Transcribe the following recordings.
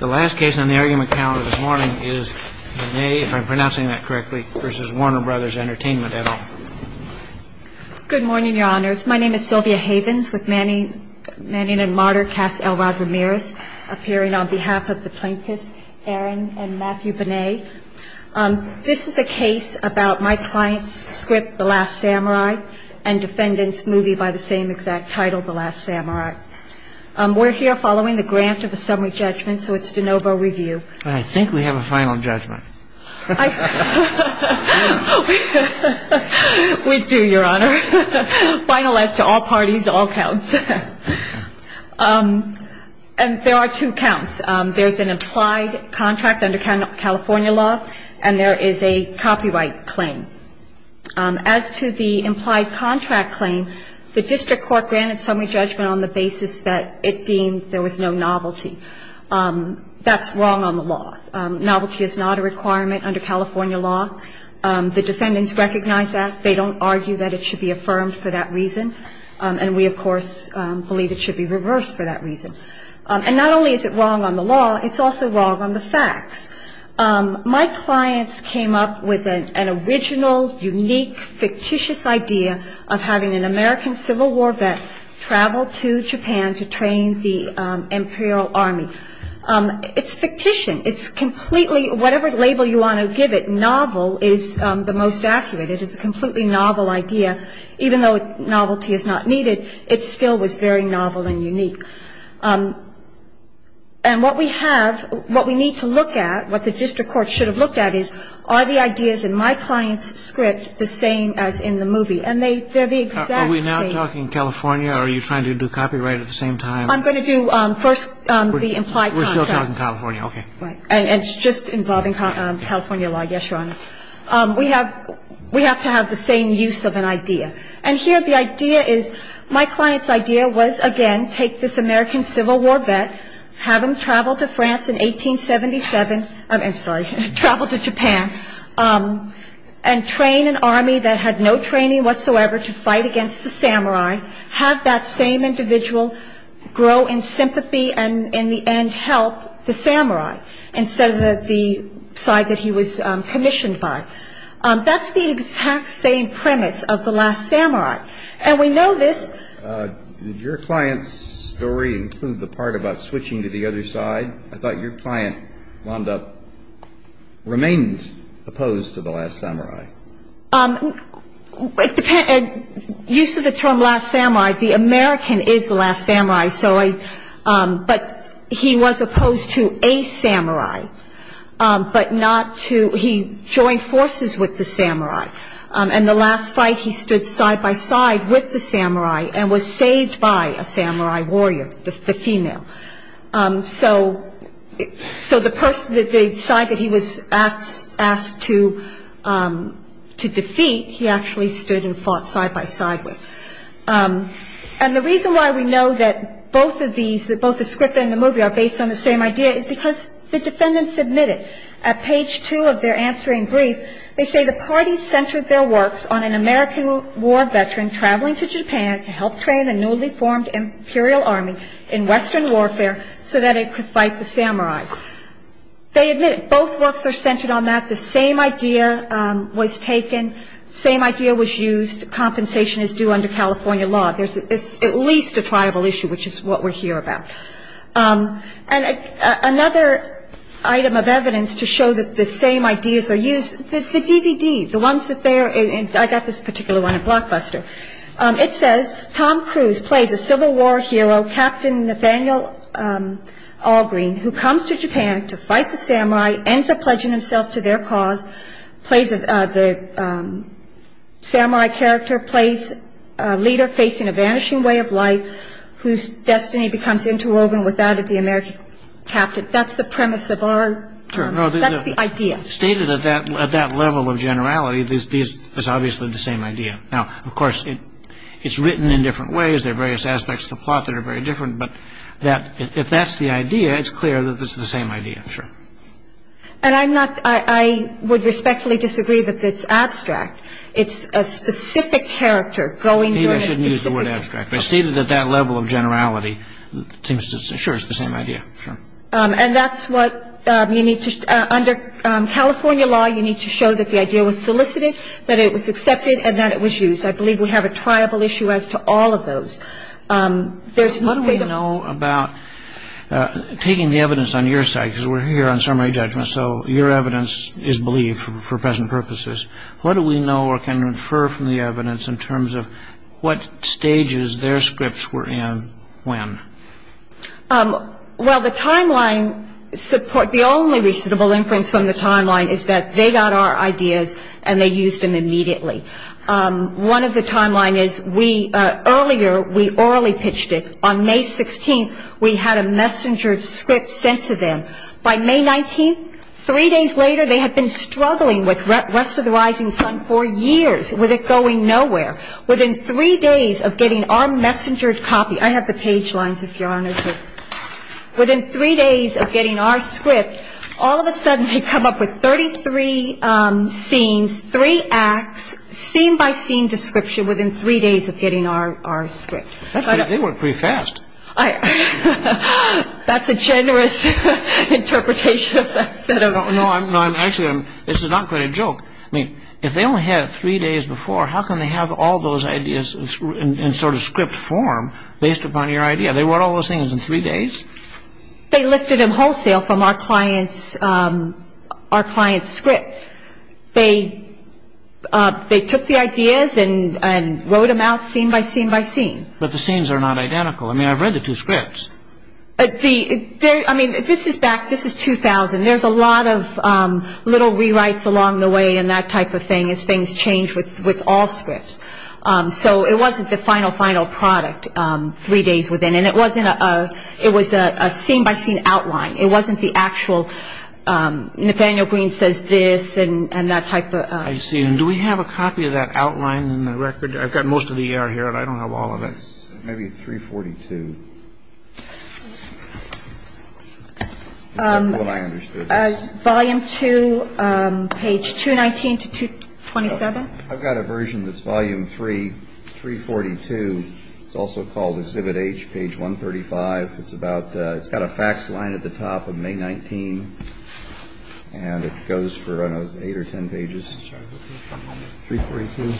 The last case on the argument calendar this morning is Benay, if I'm pronouncing that correctly, v. Warner Bros. Entertainment, et al. Good morning, Your Honors. My name is Sylvia Havens with Manning & Martyr cast Elrod Ramirez appearing on behalf of the plaintiffs, Aaron and Matthew Benay. This is a case about my client's script, The Last Samurai, and defendant's movie by the same exact title, The Last Samurai. We're here following the grant of a summary judgment, so it's de novo review. I think we have a final judgment. We do, Your Honor. Final as to all parties, all counts. And there are two counts. There's an implied contract under California law, and there is a copyright claim. As to the implied contract claim, the district court granted summary judgment on the basis that it deemed there was no novelty. That's wrong on the law. Novelty is not a requirement under California law. The defendants recognize that. They don't argue that it should be affirmed for that reason. And we, of course, believe it should be reversed for that reason. And not only is it wrong on the law, it's also wrong on the facts. My clients came up with an original, unique, fictitious idea of having an American Civil War vet travel to Japan to train the Imperial Army. It's fictition. It's completely, whatever label you want to give it, novel is the most accurate. It is a completely novel idea. Even though novelty is not needed, it still was very novel and unique. And what we have, what we need to look at, what the district court should have looked at is, are the ideas in my client's script the same as in the movie? And they're the exact same. Are we now talking California or are you trying to do copyright at the same time? I'm going to do first the implied contract. We're still talking California, okay. And it's just involving California law. Yes, Your Honor. We have to have the same use of an idea. And here the idea is, my client's idea was, again, take this American Civil War vet, have him travel to France in 1877, I'm sorry, travel to Japan, and train an army that had no training whatsoever to fight against the samurai, have that same individual grow in sympathy and help the samurai instead of the side that he was commissioned by. That's the exact same premise of The Last Samurai. And we know this. Did your client's story include the part about switching to the other side? I thought your client, Wanda, remains opposed to The Last Samurai. Use of the term Last Samurai, the American is The Last Samurai. But he was opposed to a samurai, but not to he joined forces with the samurai. And the last fight, he stood side by side with the samurai and was saved by a samurai warrior, the female. So the side that he was asked to defeat, he actually stood and fought side by side with. And the reason why we know that both of these, that both the script and the movie are based on the same idea is because the defendants admitted at page two of their answering brief, they say the party centered their works on an American war veteran traveling to Japan to help train a newly formed imperial army in Western warfare so that it could fight the samurai. They admit both works are centered on that. The same idea was taken. Same idea was used. Compensation is due under California law. There's at least a tribal issue, which is what we're here about. And another item of evidence to show that the same ideas are used, the DVD, the ones that they're in. I got this particular one in Blockbuster. It says Tom Cruise plays a Civil War hero, Captain Nathaniel Algreen, who comes to Japan to fight the samurai, ends up pledging himself to their cause. The samurai character plays a leader facing a vanishing way of life whose destiny becomes interwoven with that of the American captain. That's the premise of our, that's the idea. Stated at that level of generality, it's obviously the same idea. Now, of course, it's written in different ways. There are various aspects of the plot that are very different. But that, if that's the idea, it's clear that it's the same idea. And I'm not, I would respectfully disagree that it's abstract. It's a specific character going to a specific. Maybe I shouldn't use the word abstract. But stated at that level of generality, it seems to, sure, it's the same idea. And that's what you need to, under California law, you need to show that the idea was solicited, that it was accepted, and that it was used. I believe we have a tribal issue as to all of those. There's not a way to know about taking the evidence on your side, because we're here on summary judgment, so your evidence is believed for present purposes. What do we know or can infer from the evidence in terms of what stages their scripts were in when? Well, the timeline, the only reasonable inference from the timeline is that they got our ideas and they used them immediately. One of the timelines is we, earlier, we orally pitched it. On May 16th, we had a messenger script sent to them. By May 19th, three days later, they had been struggling with Rest of the Rising Sun for years, with it going nowhere. Within three days of getting our messenger copy, I have the page lines, if Your Honor, here. Within three days of getting our script, all of a sudden they come up with 33 scenes, three acts, scene-by-scene description within three days of getting our script. They work pretty fast. That's a generous interpretation of facts. No, actually, this is not quite a joke. I mean, if they only had it three days before, how can they have all those ideas in sort of script form based upon your idea? They wrote all those things in three days? They lifted them wholesale from our client's script. They took the ideas and wrote them out scene-by-scene-by-scene. But the scenes are not identical. I mean, I've read the two scripts. I mean, this is back, this is 2000. There's a lot of little rewrites along the way and that type of thing, as things change with all scripts. So it wasn't the final, final product three days within. And it was a scene-by-scene outline. It wasn't the actual Nathaniel Green says this and that type of thing. I see. And do we have a copy of that outline in the record? I've got most of the ER here, and I don't have all of it. That's maybe 342. That's what I understood. Volume 2, page 219 to 227. I've got a version that's volume 3, 342. It's also called Exhibit H, page 135. It's got a fax line at the top of May 19, and it goes for, I don't know, eight or ten pages. Sorry. 342.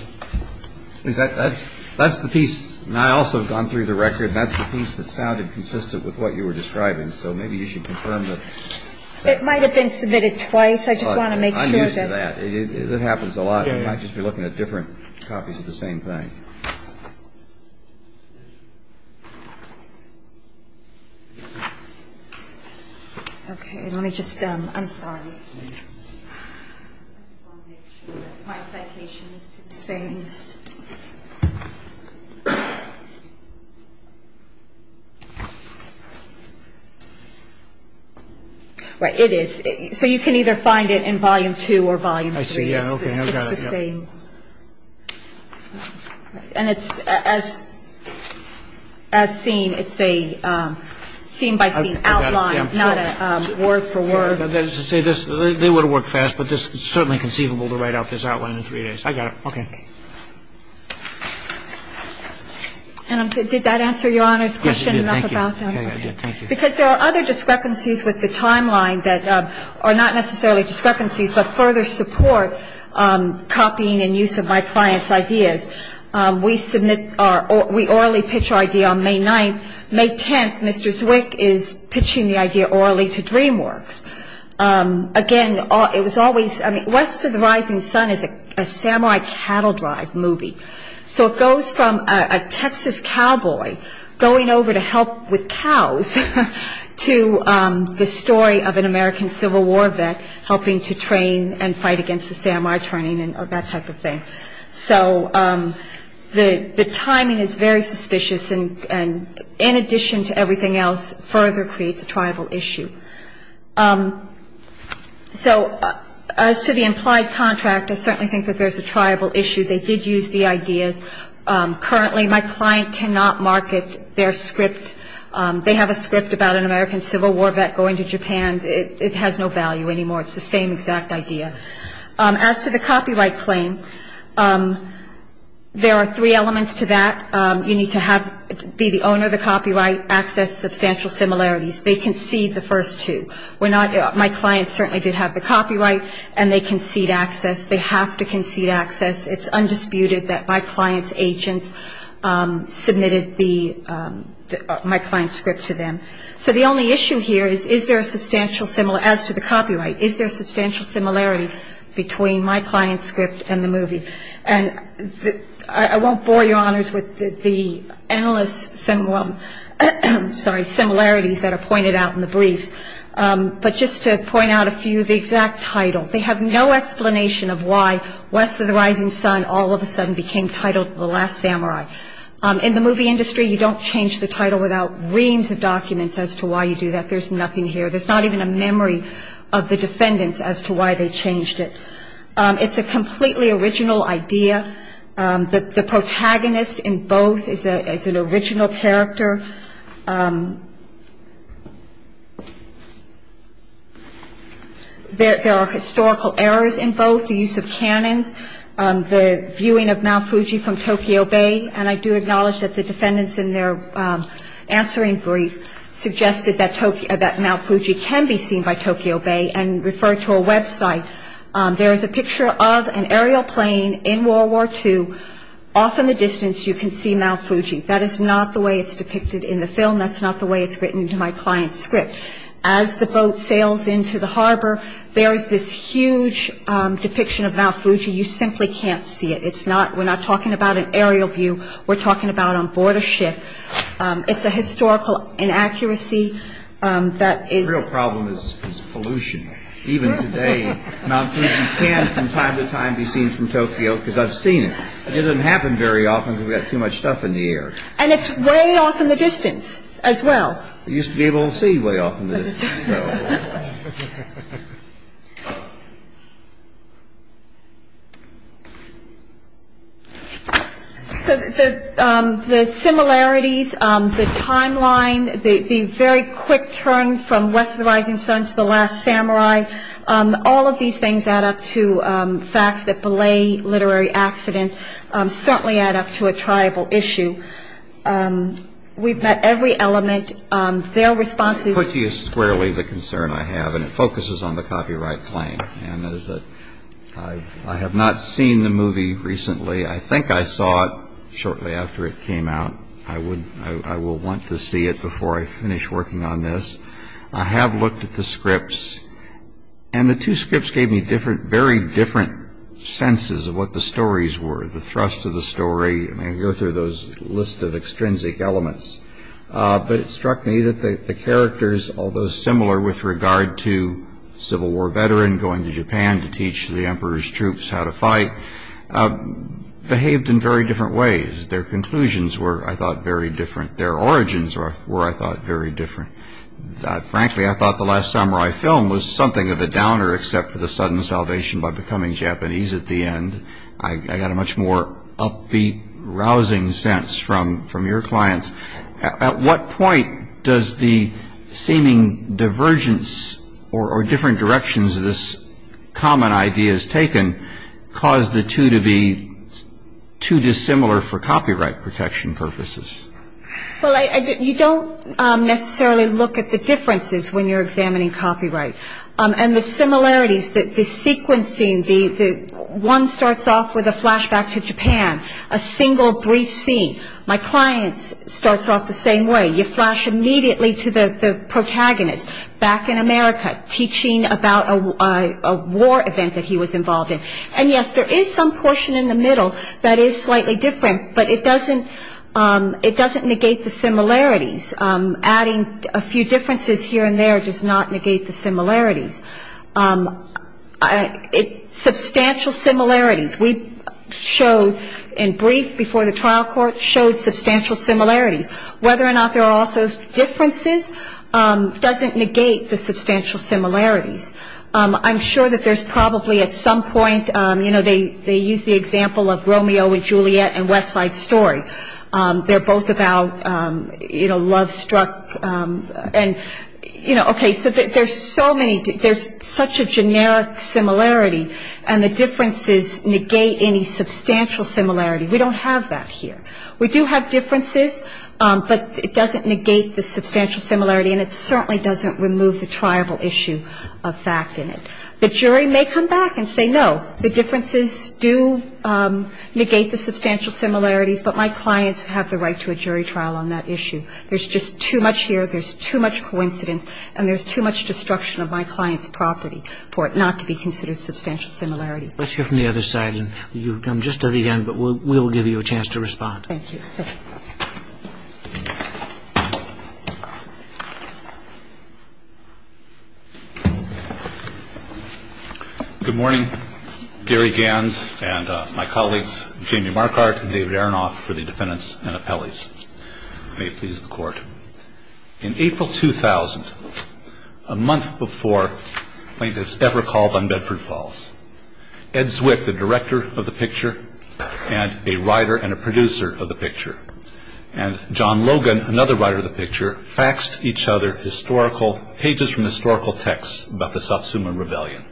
That's the piece, and I also have gone through the record. That's the piece that sounded consistent with what you were describing. So maybe you should confirm that. It might have been submitted twice. I just want to make sure. I'm used to that. It happens a lot. I might just be looking at different copies of the same thing. Okay. Let me just – I'm sorry. I just want to make sure that my citation is the same. Right. It is. So you can either find it in volume 2 or volume 3. Okay. I've got it. It's the same. And it's as seen, it's a scene-by-scene outline, not a word-for-word. They would have worked fast, but it's certainly conceivable to write out this outline in three days. I got it. Okay. And did that answer Your Honor's question enough about that? Yes, it did. Thank you. Because there are other discrepancies with the timeline that are not necessarily discrepancies but further support copying and use of my client's ideas, we submit our – we orally pitch our idea on May 9th. May 10th, Mr. Zwick is pitching the idea orally to DreamWorks. Again, it was always – I mean, West of the Rising Sun is a samurai cattle drive movie. So it goes from a Texas cowboy going over to help with cows to the story of an American Civil War vet helping to train and fight against the samurai training and that type of thing. So the timing is very suspicious and, in addition to everything else, further creates a triable issue. So as to the implied contract, I certainly think that there's a triable issue. They did use the ideas. Currently, my client cannot market their script. They have a script about an American Civil War vet going to Japan. It has no value anymore. It's the same exact idea. As to the copyright claim, there are three elements to that. You need to be the owner of the copyright, access substantial similarities. They concede the first two. We're not – my client certainly did have the copyright, and they concede access. They have to concede access. It's undisputed that my client's agents submitted my client's script to them. So the only issue here is, is there a substantial – as to the copyright, is there a substantial similarity between my client's script and the movie? And I won't bore Your Honors with the endless similarities that are pointed out in the briefs, but just to point out a few, the exact title. They have no explanation of why West of the Rising Sun all of a sudden became titled The Last Samurai. In the movie industry, you don't change the title without reams of documents as to why you do that. There's nothing here. There's not even a memory of the defendants as to why they changed it. It's a completely original idea. The protagonist in both is an original character. There are historical errors in both the use of canons, the viewing of Mount Fuji from Tokyo Bay, and I do acknowledge that the defendants in their answering brief suggested that Mount Fuji can be seen by Tokyo Bay and referred to a website. There is a picture of an aerial plane in World War II. Off in the distance, you can see Mount Fuji. That is not the way it's depicted. In the film, that's not the way it's written into my client's script. As the boat sails into the harbor, there is this huge depiction of Mount Fuji. You simply can't see it. We're not talking about an aerial view. We're talking about on board a ship. It's a historical inaccuracy. The real problem is pollution. Even today, Mount Fuji can, from time to time, be seen from Tokyo because I've seen it. It doesn't happen very often because we've got too much stuff in the air. And it's way off in the distance as well. It used to be able to see way off in the distance. So the similarities, the timeline, the very quick turn from West of the Rising Sun to The Last Samurai, all of these things add up to facts that belay literary accident. Certainly add up to a tribal issue. We've met every element. Their responses... Fuji is squarely the concern I have, and it focuses on the copyright claim. And I have not seen the movie recently. I think I saw it shortly after it came out. I will want to see it before I finish working on this. I have looked at the scripts. And the two scripts gave me very different senses of what the stories were, the thrust of the story. I go through those lists of extrinsic elements. But it struck me that the characters, although similar with regard to a Civil War veteran going to Japan to teach the Emperor's troops how to fight, behaved in very different ways. Their conclusions were, I thought, very different. Their origins were, I thought, very different. Frankly, I thought The Last Samurai film was something of a downer except for the sudden salvation by becoming Japanese at the end. I got a much more upbeat, rousing sense from your clients. At what point does the seeming divergence or different directions of these common ideas taken cause the two to be too dissimilar for copyright protection purposes? Well, you don't necessarily look at the differences when you're examining copyright. And the similarities, the sequencing, one starts off with a flashback to Japan, a single brief scene. My client starts off the same way. You flash immediately to the protagonist back in America teaching about a war event that he was involved in. And yes, there is some portion in the middle that is slightly different, but it doesn't negate the similarities. Adding a few differences here and there does not negate the similarities. Substantial similarities. We showed in brief before the trial court showed substantial similarities. Whether or not there are also differences doesn't negate the substantial similarities. I'm sure that there's probably at some point, you know, they use the example of Romeo and Juliet and West Side Story. They're both about, you know, love struck. And, you know, okay, so there's so many, there's such a generic similarity and the differences negate any substantial similarity. We don't have that here. We do have differences, but it doesn't negate the substantial similarity and it certainly doesn't remove the triable issue of fact in it. The jury may come back and say, no, the differences do negate the substantial similarities, but my clients have the right to a jury trial on that issue. There's just too much here, there's too much coincidence, and there's too much destruction of my client's property for it not to be considered substantial similarity. Let's hear from the other side. And you've come just to the end, but we'll give you a chance to respond. Thank you. Good morning. Gary Ganz and my colleagues, Jamie Marcard and David Aronoff for the defendants and appellees. May it please the Court. In April 2000, a month before plaintiffs ever called on Bedford Falls, Ed Zwick, the director of the picture, and a writer and a producer of the picture, and John Logan, another writer of the picture, faxed each other historical, pages from historical texts about the Satsuma Rebellion.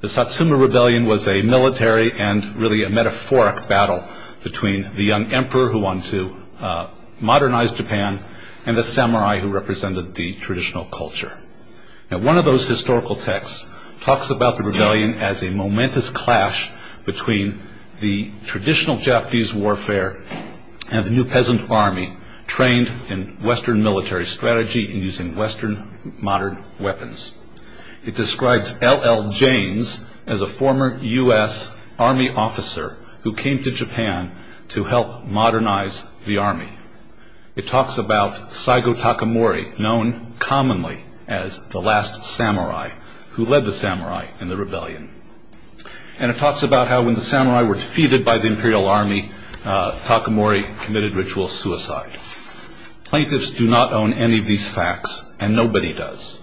The Satsuma Rebellion was a military and really a metaphoric battle between the young emperor who wanted to modernize Japan and the samurai who represented the traditional culture. Now one of those historical texts talks about the rebellion as a momentous clash between the traditional Japanese warfare and the new peasant army trained in Western military strategy and using Western modern weapons. It describes L.L. Janes as a former U.S. Army officer who came to Japan to help modernize the army. It talks about Saigo Takamori, known commonly as the last samurai, who led the samurai in the rebellion. And it talks about how when the samurai were defeated by the Imperial Army, Takamori committed ritual suicide. Plaintiffs do not own any of these fax and nobody does.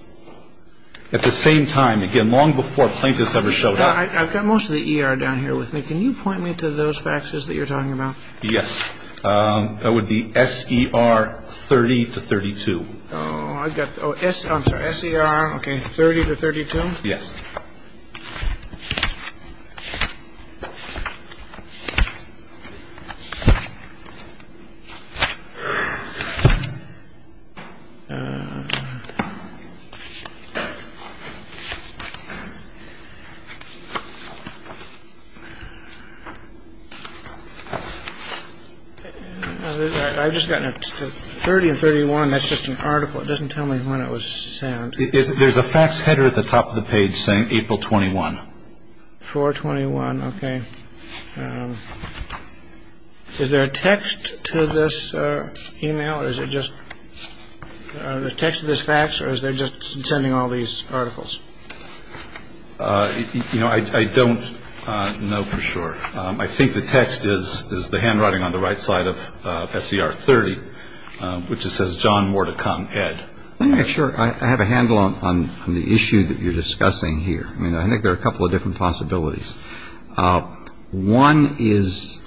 At the same time, again, long before plaintiffs ever showed up. I've got most of the E.R. down here with me. Can you point me to those faxes that you're talking about? Yes. That would be S.E.R. 30 to 32. Oh, I've got the S.E.R., okay, 30 to 32? Yes. I've just gotten it. 30 and 31, that's just an article. It doesn't tell me when it was sent. There's a fax header at the top of the page saying April 21. 4-21, okay. Yes, there is a text to this. Email? Is it just the text of this fax or is there just sending all these articles? You know, I don't know for sure. I think the text is the handwriting on the right side of S.E.R. 30, which says, John, more to come, Ed. Let me make sure I have a handle on the issue that you're discussing here. I mean, I think there are a couple of different possibilities. One is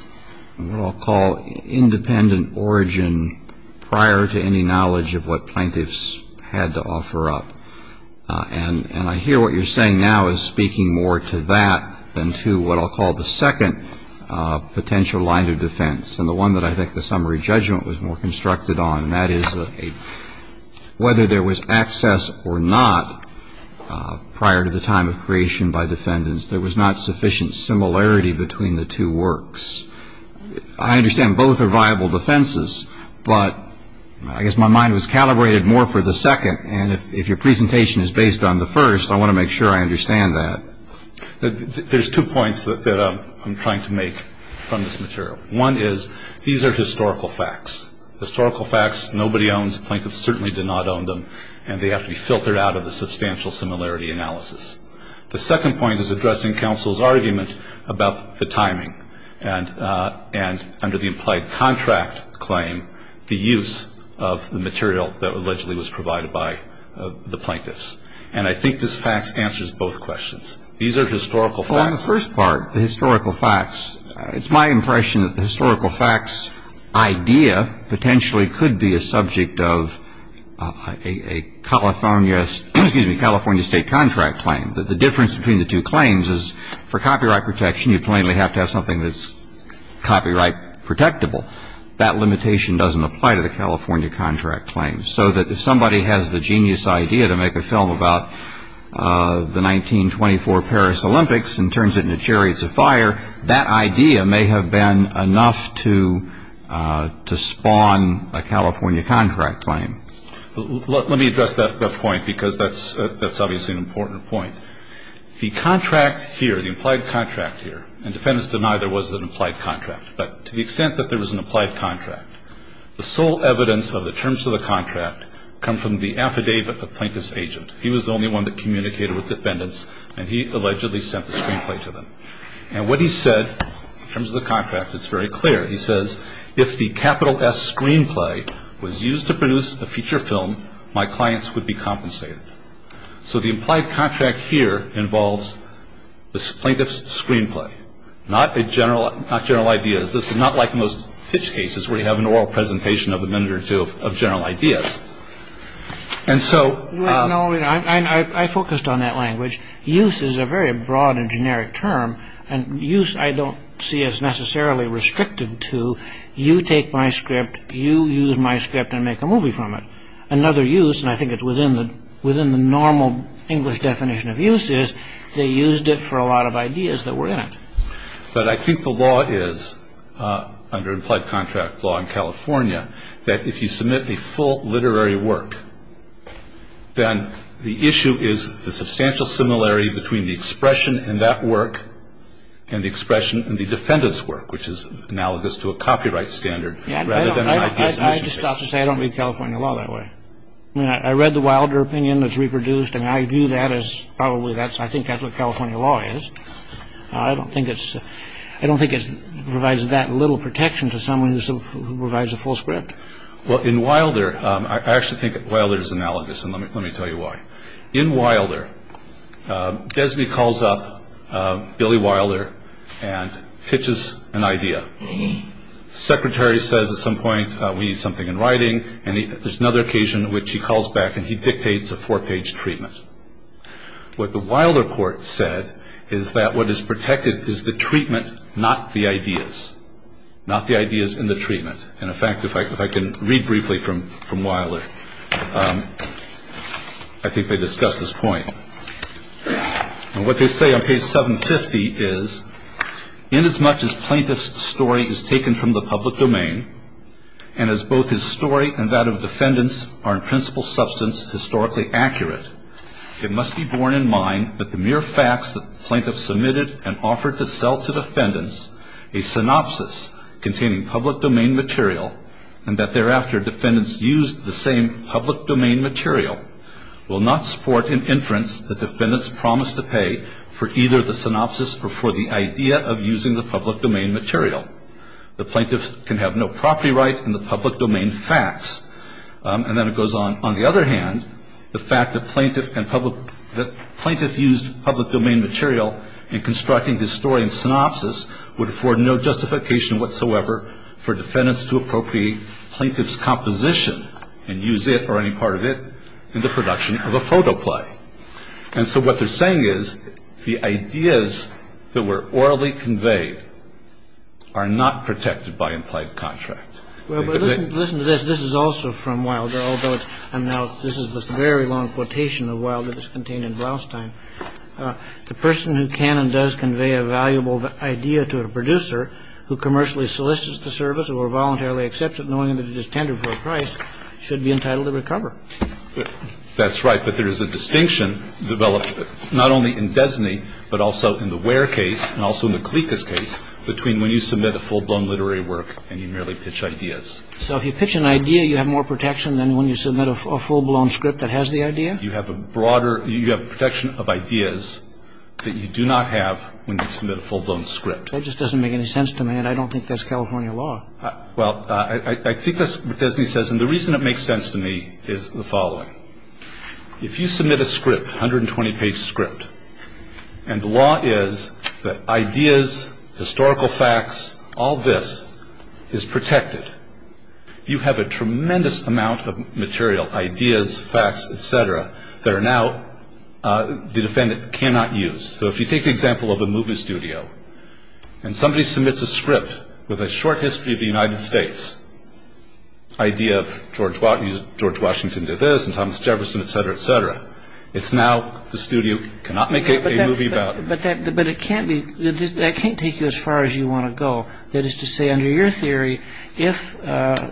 what I'll call independent origin prior to any knowledge of what plaintiffs had to offer up. And I hear what you're saying now is speaking more to that than to what I'll call the second potential line of defense, and the one that I think the summary judgment was more constructed on, and that is whether there was access or not prior to the time of creation by defendants, there was not sufficient similarity between the two works. I understand both are viable defenses, but I guess my mind was calibrated more for the second, and if your presentation is based on the first, I want to make sure I understand that. There's two points that I'm trying to make from this material. One is these are historical facts. Historical facts nobody owns. Plaintiffs certainly did not own them, and they have to be filtered out of the substantial similarity analysis. The second point is addressing counsel's argument about the timing and under the implied contract claim, the use of the material that allegedly was provided by the plaintiffs. And I think this facts answers both questions. These are historical facts. Well, on the first part, the historical facts, it's my impression that the historical facts idea potentially could be a subject of a California State contract claim. The difference between the two claims is for copyright protection, you plainly have to have something that's copyright protectable. That limitation doesn't apply to the California contract claim, so that if somebody has the genius idea to make a film about the 1924 Paris Olympics and turns it into chariots of fire, that idea may have been enough to spawn a California contract claim. Let me address that point because that's obviously an important point. The contract here, the implied contract here, and defendants deny there was an implied contract, but to the extent that there was an implied contract, the sole evidence of the terms of the contract come from the affidavit of the plaintiff's agent. He was the only one that communicated with defendants, and he allegedly sent the screenplay to them. And what he said in terms of the contract, it's very clear. He says, if the capital S screenplay was used to produce a feature film, my clients would be compensated. So the implied contract here involves the plaintiff's screenplay, not general ideas. This is not like most pitch cases where you have an oral presentation of a minute or two of general ideas. And so... No, no, I focused on that language. Use is a very broad and generic term, and use I don't see as necessarily restricted to you take my script, you use my script and make a movie from it. Another use, and I think it's within the normal English definition of use, is they used it for a lot of ideas that were in it. But I think the law is, under implied contract law in California, that if you submit the full literary work, then the issue is the substantial similarity between the expression in that work and the expression in the defendant's work, which is analogous to a copyright standard rather than an IP submission case. I just have to say I don't read California law that way. I mean, I read the Wilder opinion that's reproduced, and I view that as probably that's, I think that's what California law is. I don't think it's, I don't think it provides that little protection to someone who provides a full script. Well, in Wilder, I actually think Wilder is analogous, and let me tell you why. In Wilder, Desney calls up Billy Wilder and pitches an idea. The secretary says at some point we need something in writing, and there's another occasion in which he calls back and he dictates a four-page treatment. What the Wilder court said is that what is protected is the treatment, not the ideas. Not the ideas and the treatment. And, in fact, if I can read briefly from Wilder, I think they discussed this point. And what they say on page 750 is, inasmuch as plaintiff's story is taken from the public domain and as both his story and that of defendants are in principal substance historically accurate, it must be borne in mind that the mere facts that the plaintiff submitted and offered to sell to defendants, a synopsis containing public domain material, and that thereafter defendants used the same public domain material, will not support an inference that defendants promised to pay for either the synopsis or for the idea of using the public domain material. The plaintiff can have no property right in the public domain facts. And then it goes on, on the other hand, the fact that plaintiff and public – that plaintiff used public domain material in constructing his story and synopsis would afford no justification whatsoever for defendants to appropriate plaintiff's composition and use it or any part of it in the production of a photo play. And so what they're saying is the ideas that were orally conveyed are not protected by implied contract. Well, but listen to this. This is also from Wilder, although it's – and now this is the very long quotation of Wilder that's contained in Blastheim. The person who can and does convey a valuable idea to a producer who commercially solicits the service or voluntarily accepts it knowing that it is tender for a price should be entitled to recover. That's right. But there is a distinction developed not only in Desney but also in the Ware case and also in the Clicas case between when you submit a full-blown literary work and you merely pitch ideas. So if you pitch an idea, you have more protection than when you submit a full-blown script that has the idea? You have a broader – you have protection of ideas that you do not have when you submit a full-blown script. That just doesn't make any sense to me, and I don't think that's California law. Well, I think that's what Desney says, and the reason it makes sense to me is the following. If you submit a script, 120-page script, and the law is that ideas, historical facts, all this is protected, you have a tremendous amount of material, ideas, facts, et cetera, that are now the defendant cannot use. So if you take the example of a movie studio and somebody submits a script with a short history of the United States, idea of George Washington did this and Thomas Jefferson, et cetera, et cetera, it's now the studio cannot make a movie about it. But it can't be – that can't take you as far as you want to go. That is to say, under your theory, if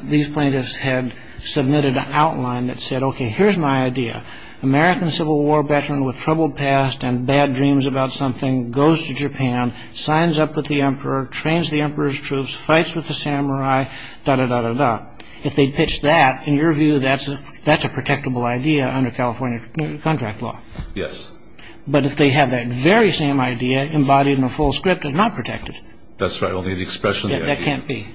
these plaintiffs had submitted an outline that said, okay, here's my idea, American Civil War veteran with troubled past and bad dreams about something goes to Japan, signs up with the emperor, trains the emperor's troops, fights with the samurai, da-da-da-da-da. If they pitched that, in your view, that's a protectable idea under California contract law? Yes. But if they had that very same idea embodied in a full script, it's not protected. That's right, only the expression of the idea. That can't be.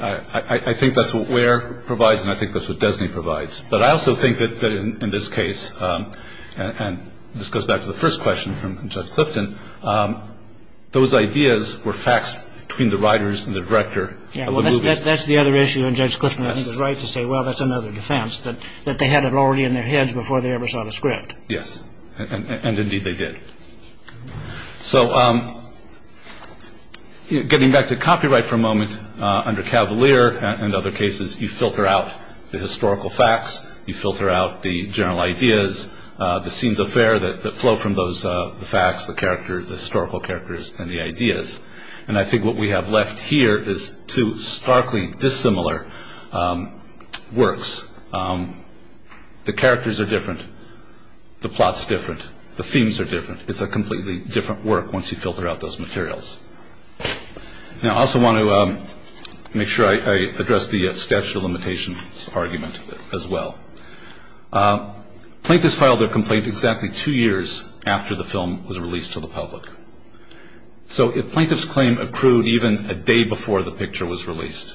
I think that's what Ware provides and I think that's what Desney provides. But I also think that in this case, and this goes back to the first question from Judge Clifton, those ideas were facts between the writers and the director of the movie. Yeah, well, that's the other issue, and Judge Clifton, I think, is right to say, well, that's another defense, that they had it already in their heads before they ever saw the script. Yes, and indeed they did. So getting back to copyright for a moment, under Cavalier and other cases, you filter out the historical facts, you filter out the general ideas, the scenes of fare that flow from those facts, the historical characters, and the ideas. And I think what we have left here is two starkly dissimilar works. The characters are different. The plot's different. The themes are different. It's a completely different work once you filter out those materials. Now, I also want to make sure I address the statute of limitations argument as well. Plaintiffs filed their complaint exactly two years after the film was released to the public. So if plaintiff's claim accrued even a day before the picture was released,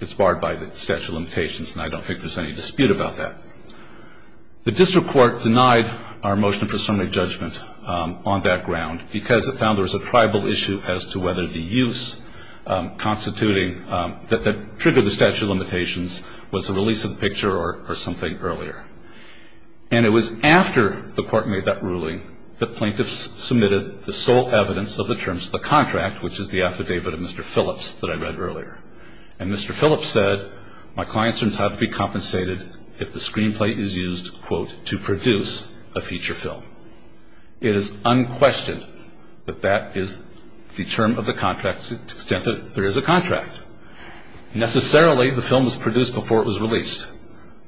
it's barred by the statute of limitations, and I don't think there's any dispute about that. The district court denied our motion for summary judgment on that ground because it found there was a tribal issue as to whether the use constituting that triggered the statute of limitations was a release of the picture or something earlier. And it was after the court made that ruling that plaintiffs submitted the sole evidence of the terms of the contract, which is the affidavit of Mr. Phillips that I read earlier. And Mr. Phillips said, My clients are entitled to be compensated if the screenplay is used, quote, to produce a feature film. It is unquestioned that that is the term of the contract to the extent that there is a contract. Necessarily, the film was produced before it was released.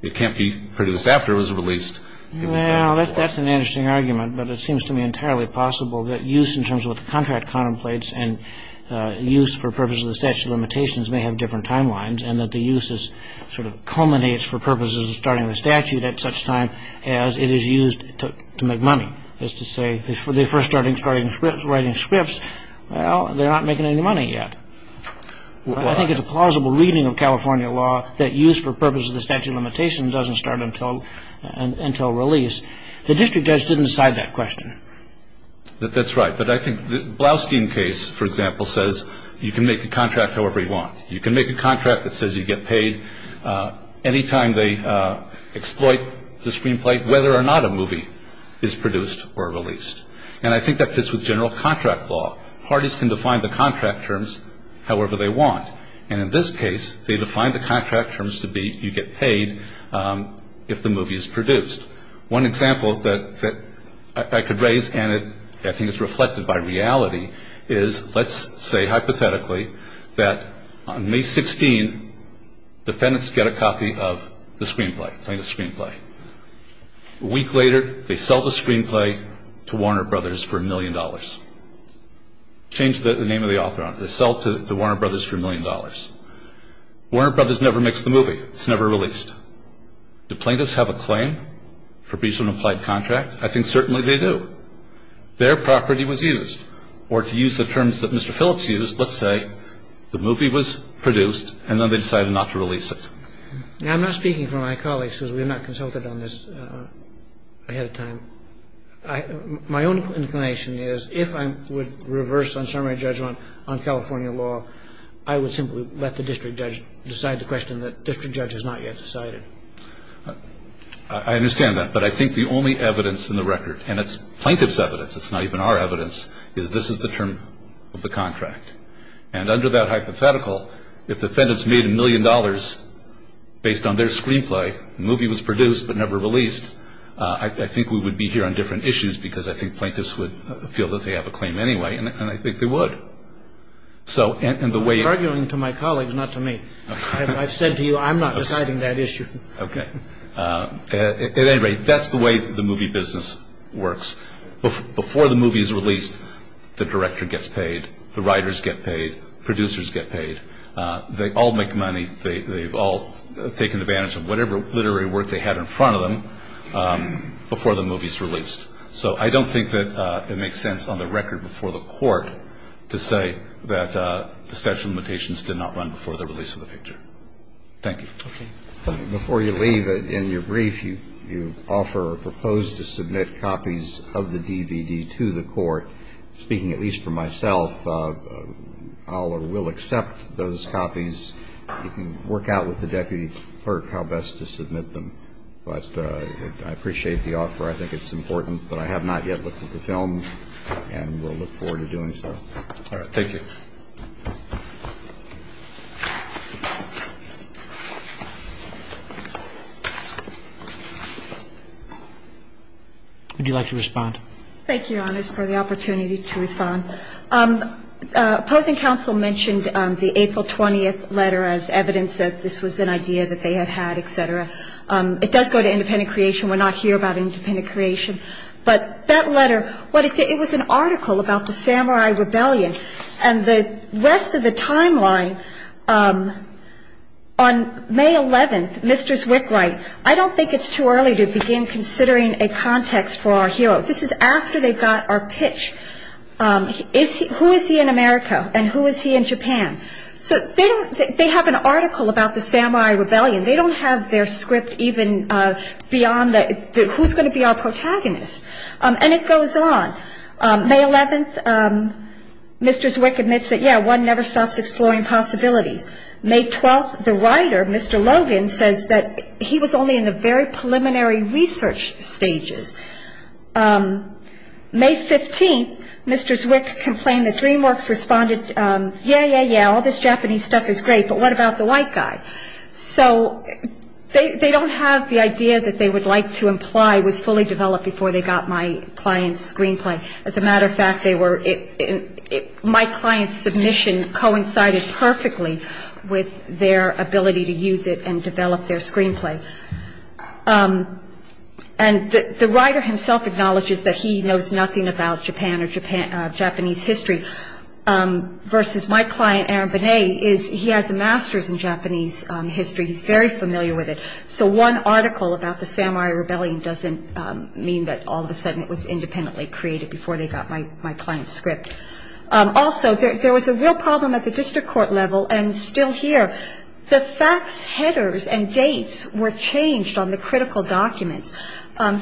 It can't be produced after it was released. Well, that's an interesting argument, but it seems to me entirely possible that use in terms of what the contract contemplates and use for purposes of the statute of limitations may have different timelines and that the use sort of culminates for purposes of starting the statute at such time as it is used to make money. That is to say, they're first starting writing scripts, well, they're not making any money yet. I think it's a plausible reading of California law that use for purposes of the statute of limitations doesn't start until release. The district judge didn't decide that question. That's right. But I think Blaustein case, for example, says you can make a contract however you want. You can make a contract that says you get paid any time they exploit the screenplay, whether or not a movie is produced or released. And I think that fits with general contract law. Parties can define the contract terms however they want. And in this case, they define the contract terms to be you get paid if the movie is produced. One example that I could raise and I think it's reflected by reality is let's say hypothetically that on May 16, defendants get a copy of the screenplay, plaintiff's screenplay. A week later, they sell the screenplay to Warner Brothers for a million dollars. Change the name of the author on it. They sell it to Warner Brothers for a million dollars. Warner Brothers never makes the movie. It's never released. Do plaintiffs have a claim for breach of an applied contract? I think certainly they do. Their property was used. Or to use the terms that Mr. Phillips used, let's say the movie was produced and then they decided not to release it. Now, I'm not speaking for my colleagues because we have not consulted on this ahead of time. My own inclination is if I would reverse unsummary judgment on California law, I would simply let the district judge decide the question that district judge has not yet decided. I understand that, but I think the only evidence in the record, and it's plaintiff's evidence, it's not even our evidence, is this is the term of the contract. And under that hypothetical, if defendants made a million dollars based on their screenplay, the movie was produced but never released, I think we would be here on different issues because I think plaintiffs would feel that they have a claim anyway, and I think they would. I'm arguing to my colleagues, not to me. I've said to you I'm not deciding that issue. Okay. At any rate, that's the way the movie business works. Before the movie is released, the director gets paid, the writers get paid, producers get paid. They all make money. They've all taken advantage of whatever literary work they had in front of them before the movie is released. So I don't think that it makes sense on the record before the court to say that the statute of limitations did not run before the release of the picture. Thank you. Okay. Before you leave, in your brief, you offer or propose to submit copies of the DVD to the court. Speaking at least for myself, I'll or will accept those copies. You can work out with the deputy clerk how best to submit them. But I appreciate the offer. I think it's important. But I have not yet looked at the film, and will look forward to doing so. All right. Thank you. Would you like to respond? Thank you, Your Honors, for the opportunity to respond. Opposing counsel mentioned the April 20th letter as evidence that this was an idea that they had had, et cetera. It does go to independent creation. We're not here about independent creation. But that letter, it was an article about the Samurai Rebellion. And the rest of the timeline on May 11th, Mr. Wickwright, I don't think it's too early to begin considering a context for our hero. This is after they got our pitch. Who is he in America, and who is he in Japan? So they have an article about the Samurai Rebellion. They don't have their script even beyond who's going to be our protagonist. And it goes on. May 11th, Mr. Zwick admits that, yeah, one never stops exploring possibilities. May 12th, the writer, Mr. Logan, says that he was only in the very preliminary research stages. May 15th, Mr. Zwick complained that DreamWorks responded, yeah, yeah, yeah, all this Japanese stuff is great, but what about the white guy? So they don't have the idea that they would like to imply was fully developed before they got my client's screenplay. As a matter of fact, my client's submission coincided perfectly with their ability to use it and develop their screenplay. And the writer himself acknowledges that he knows nothing about Japan or Japanese history, versus my client, Aaron Bonet, he has a master's in Japanese history. He's very familiar with it. So one article about the Samurai Rebellion doesn't mean that all of a sudden it was independently created before they got my client's script. Also, there was a real problem at the district court level, and still here. The facts headers and dates were changed on the critical documents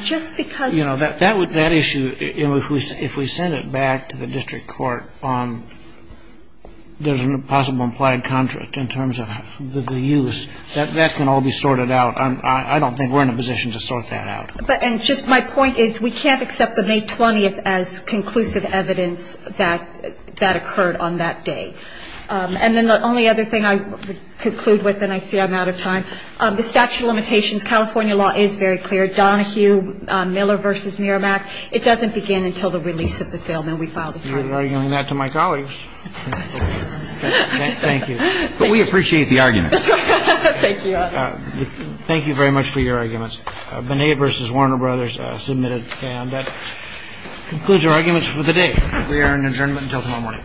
just because- That issue, if we send it back to the district court, there's a possible implied contract in terms of the use. That can all be sorted out. I don't think we're in a position to sort that out. And just my point is we can't accept the May 20th as conclusive evidence that that occurred on that day. And then the only other thing I would conclude with, and I see I'm out of time, the statute of limitations, California law is very clear. Donahue, Miller v. Merrimack, it doesn't begin until the release of the film, and we filed a claim. You're arguing that to my colleagues. Thank you. But we appreciate the argument. Thank you, Your Honor. Thank you very much for your arguments. Bonet v. Warner Brothers submitted the claim. That concludes our arguments for the day. We are in adjournment until tomorrow morning. Thank you.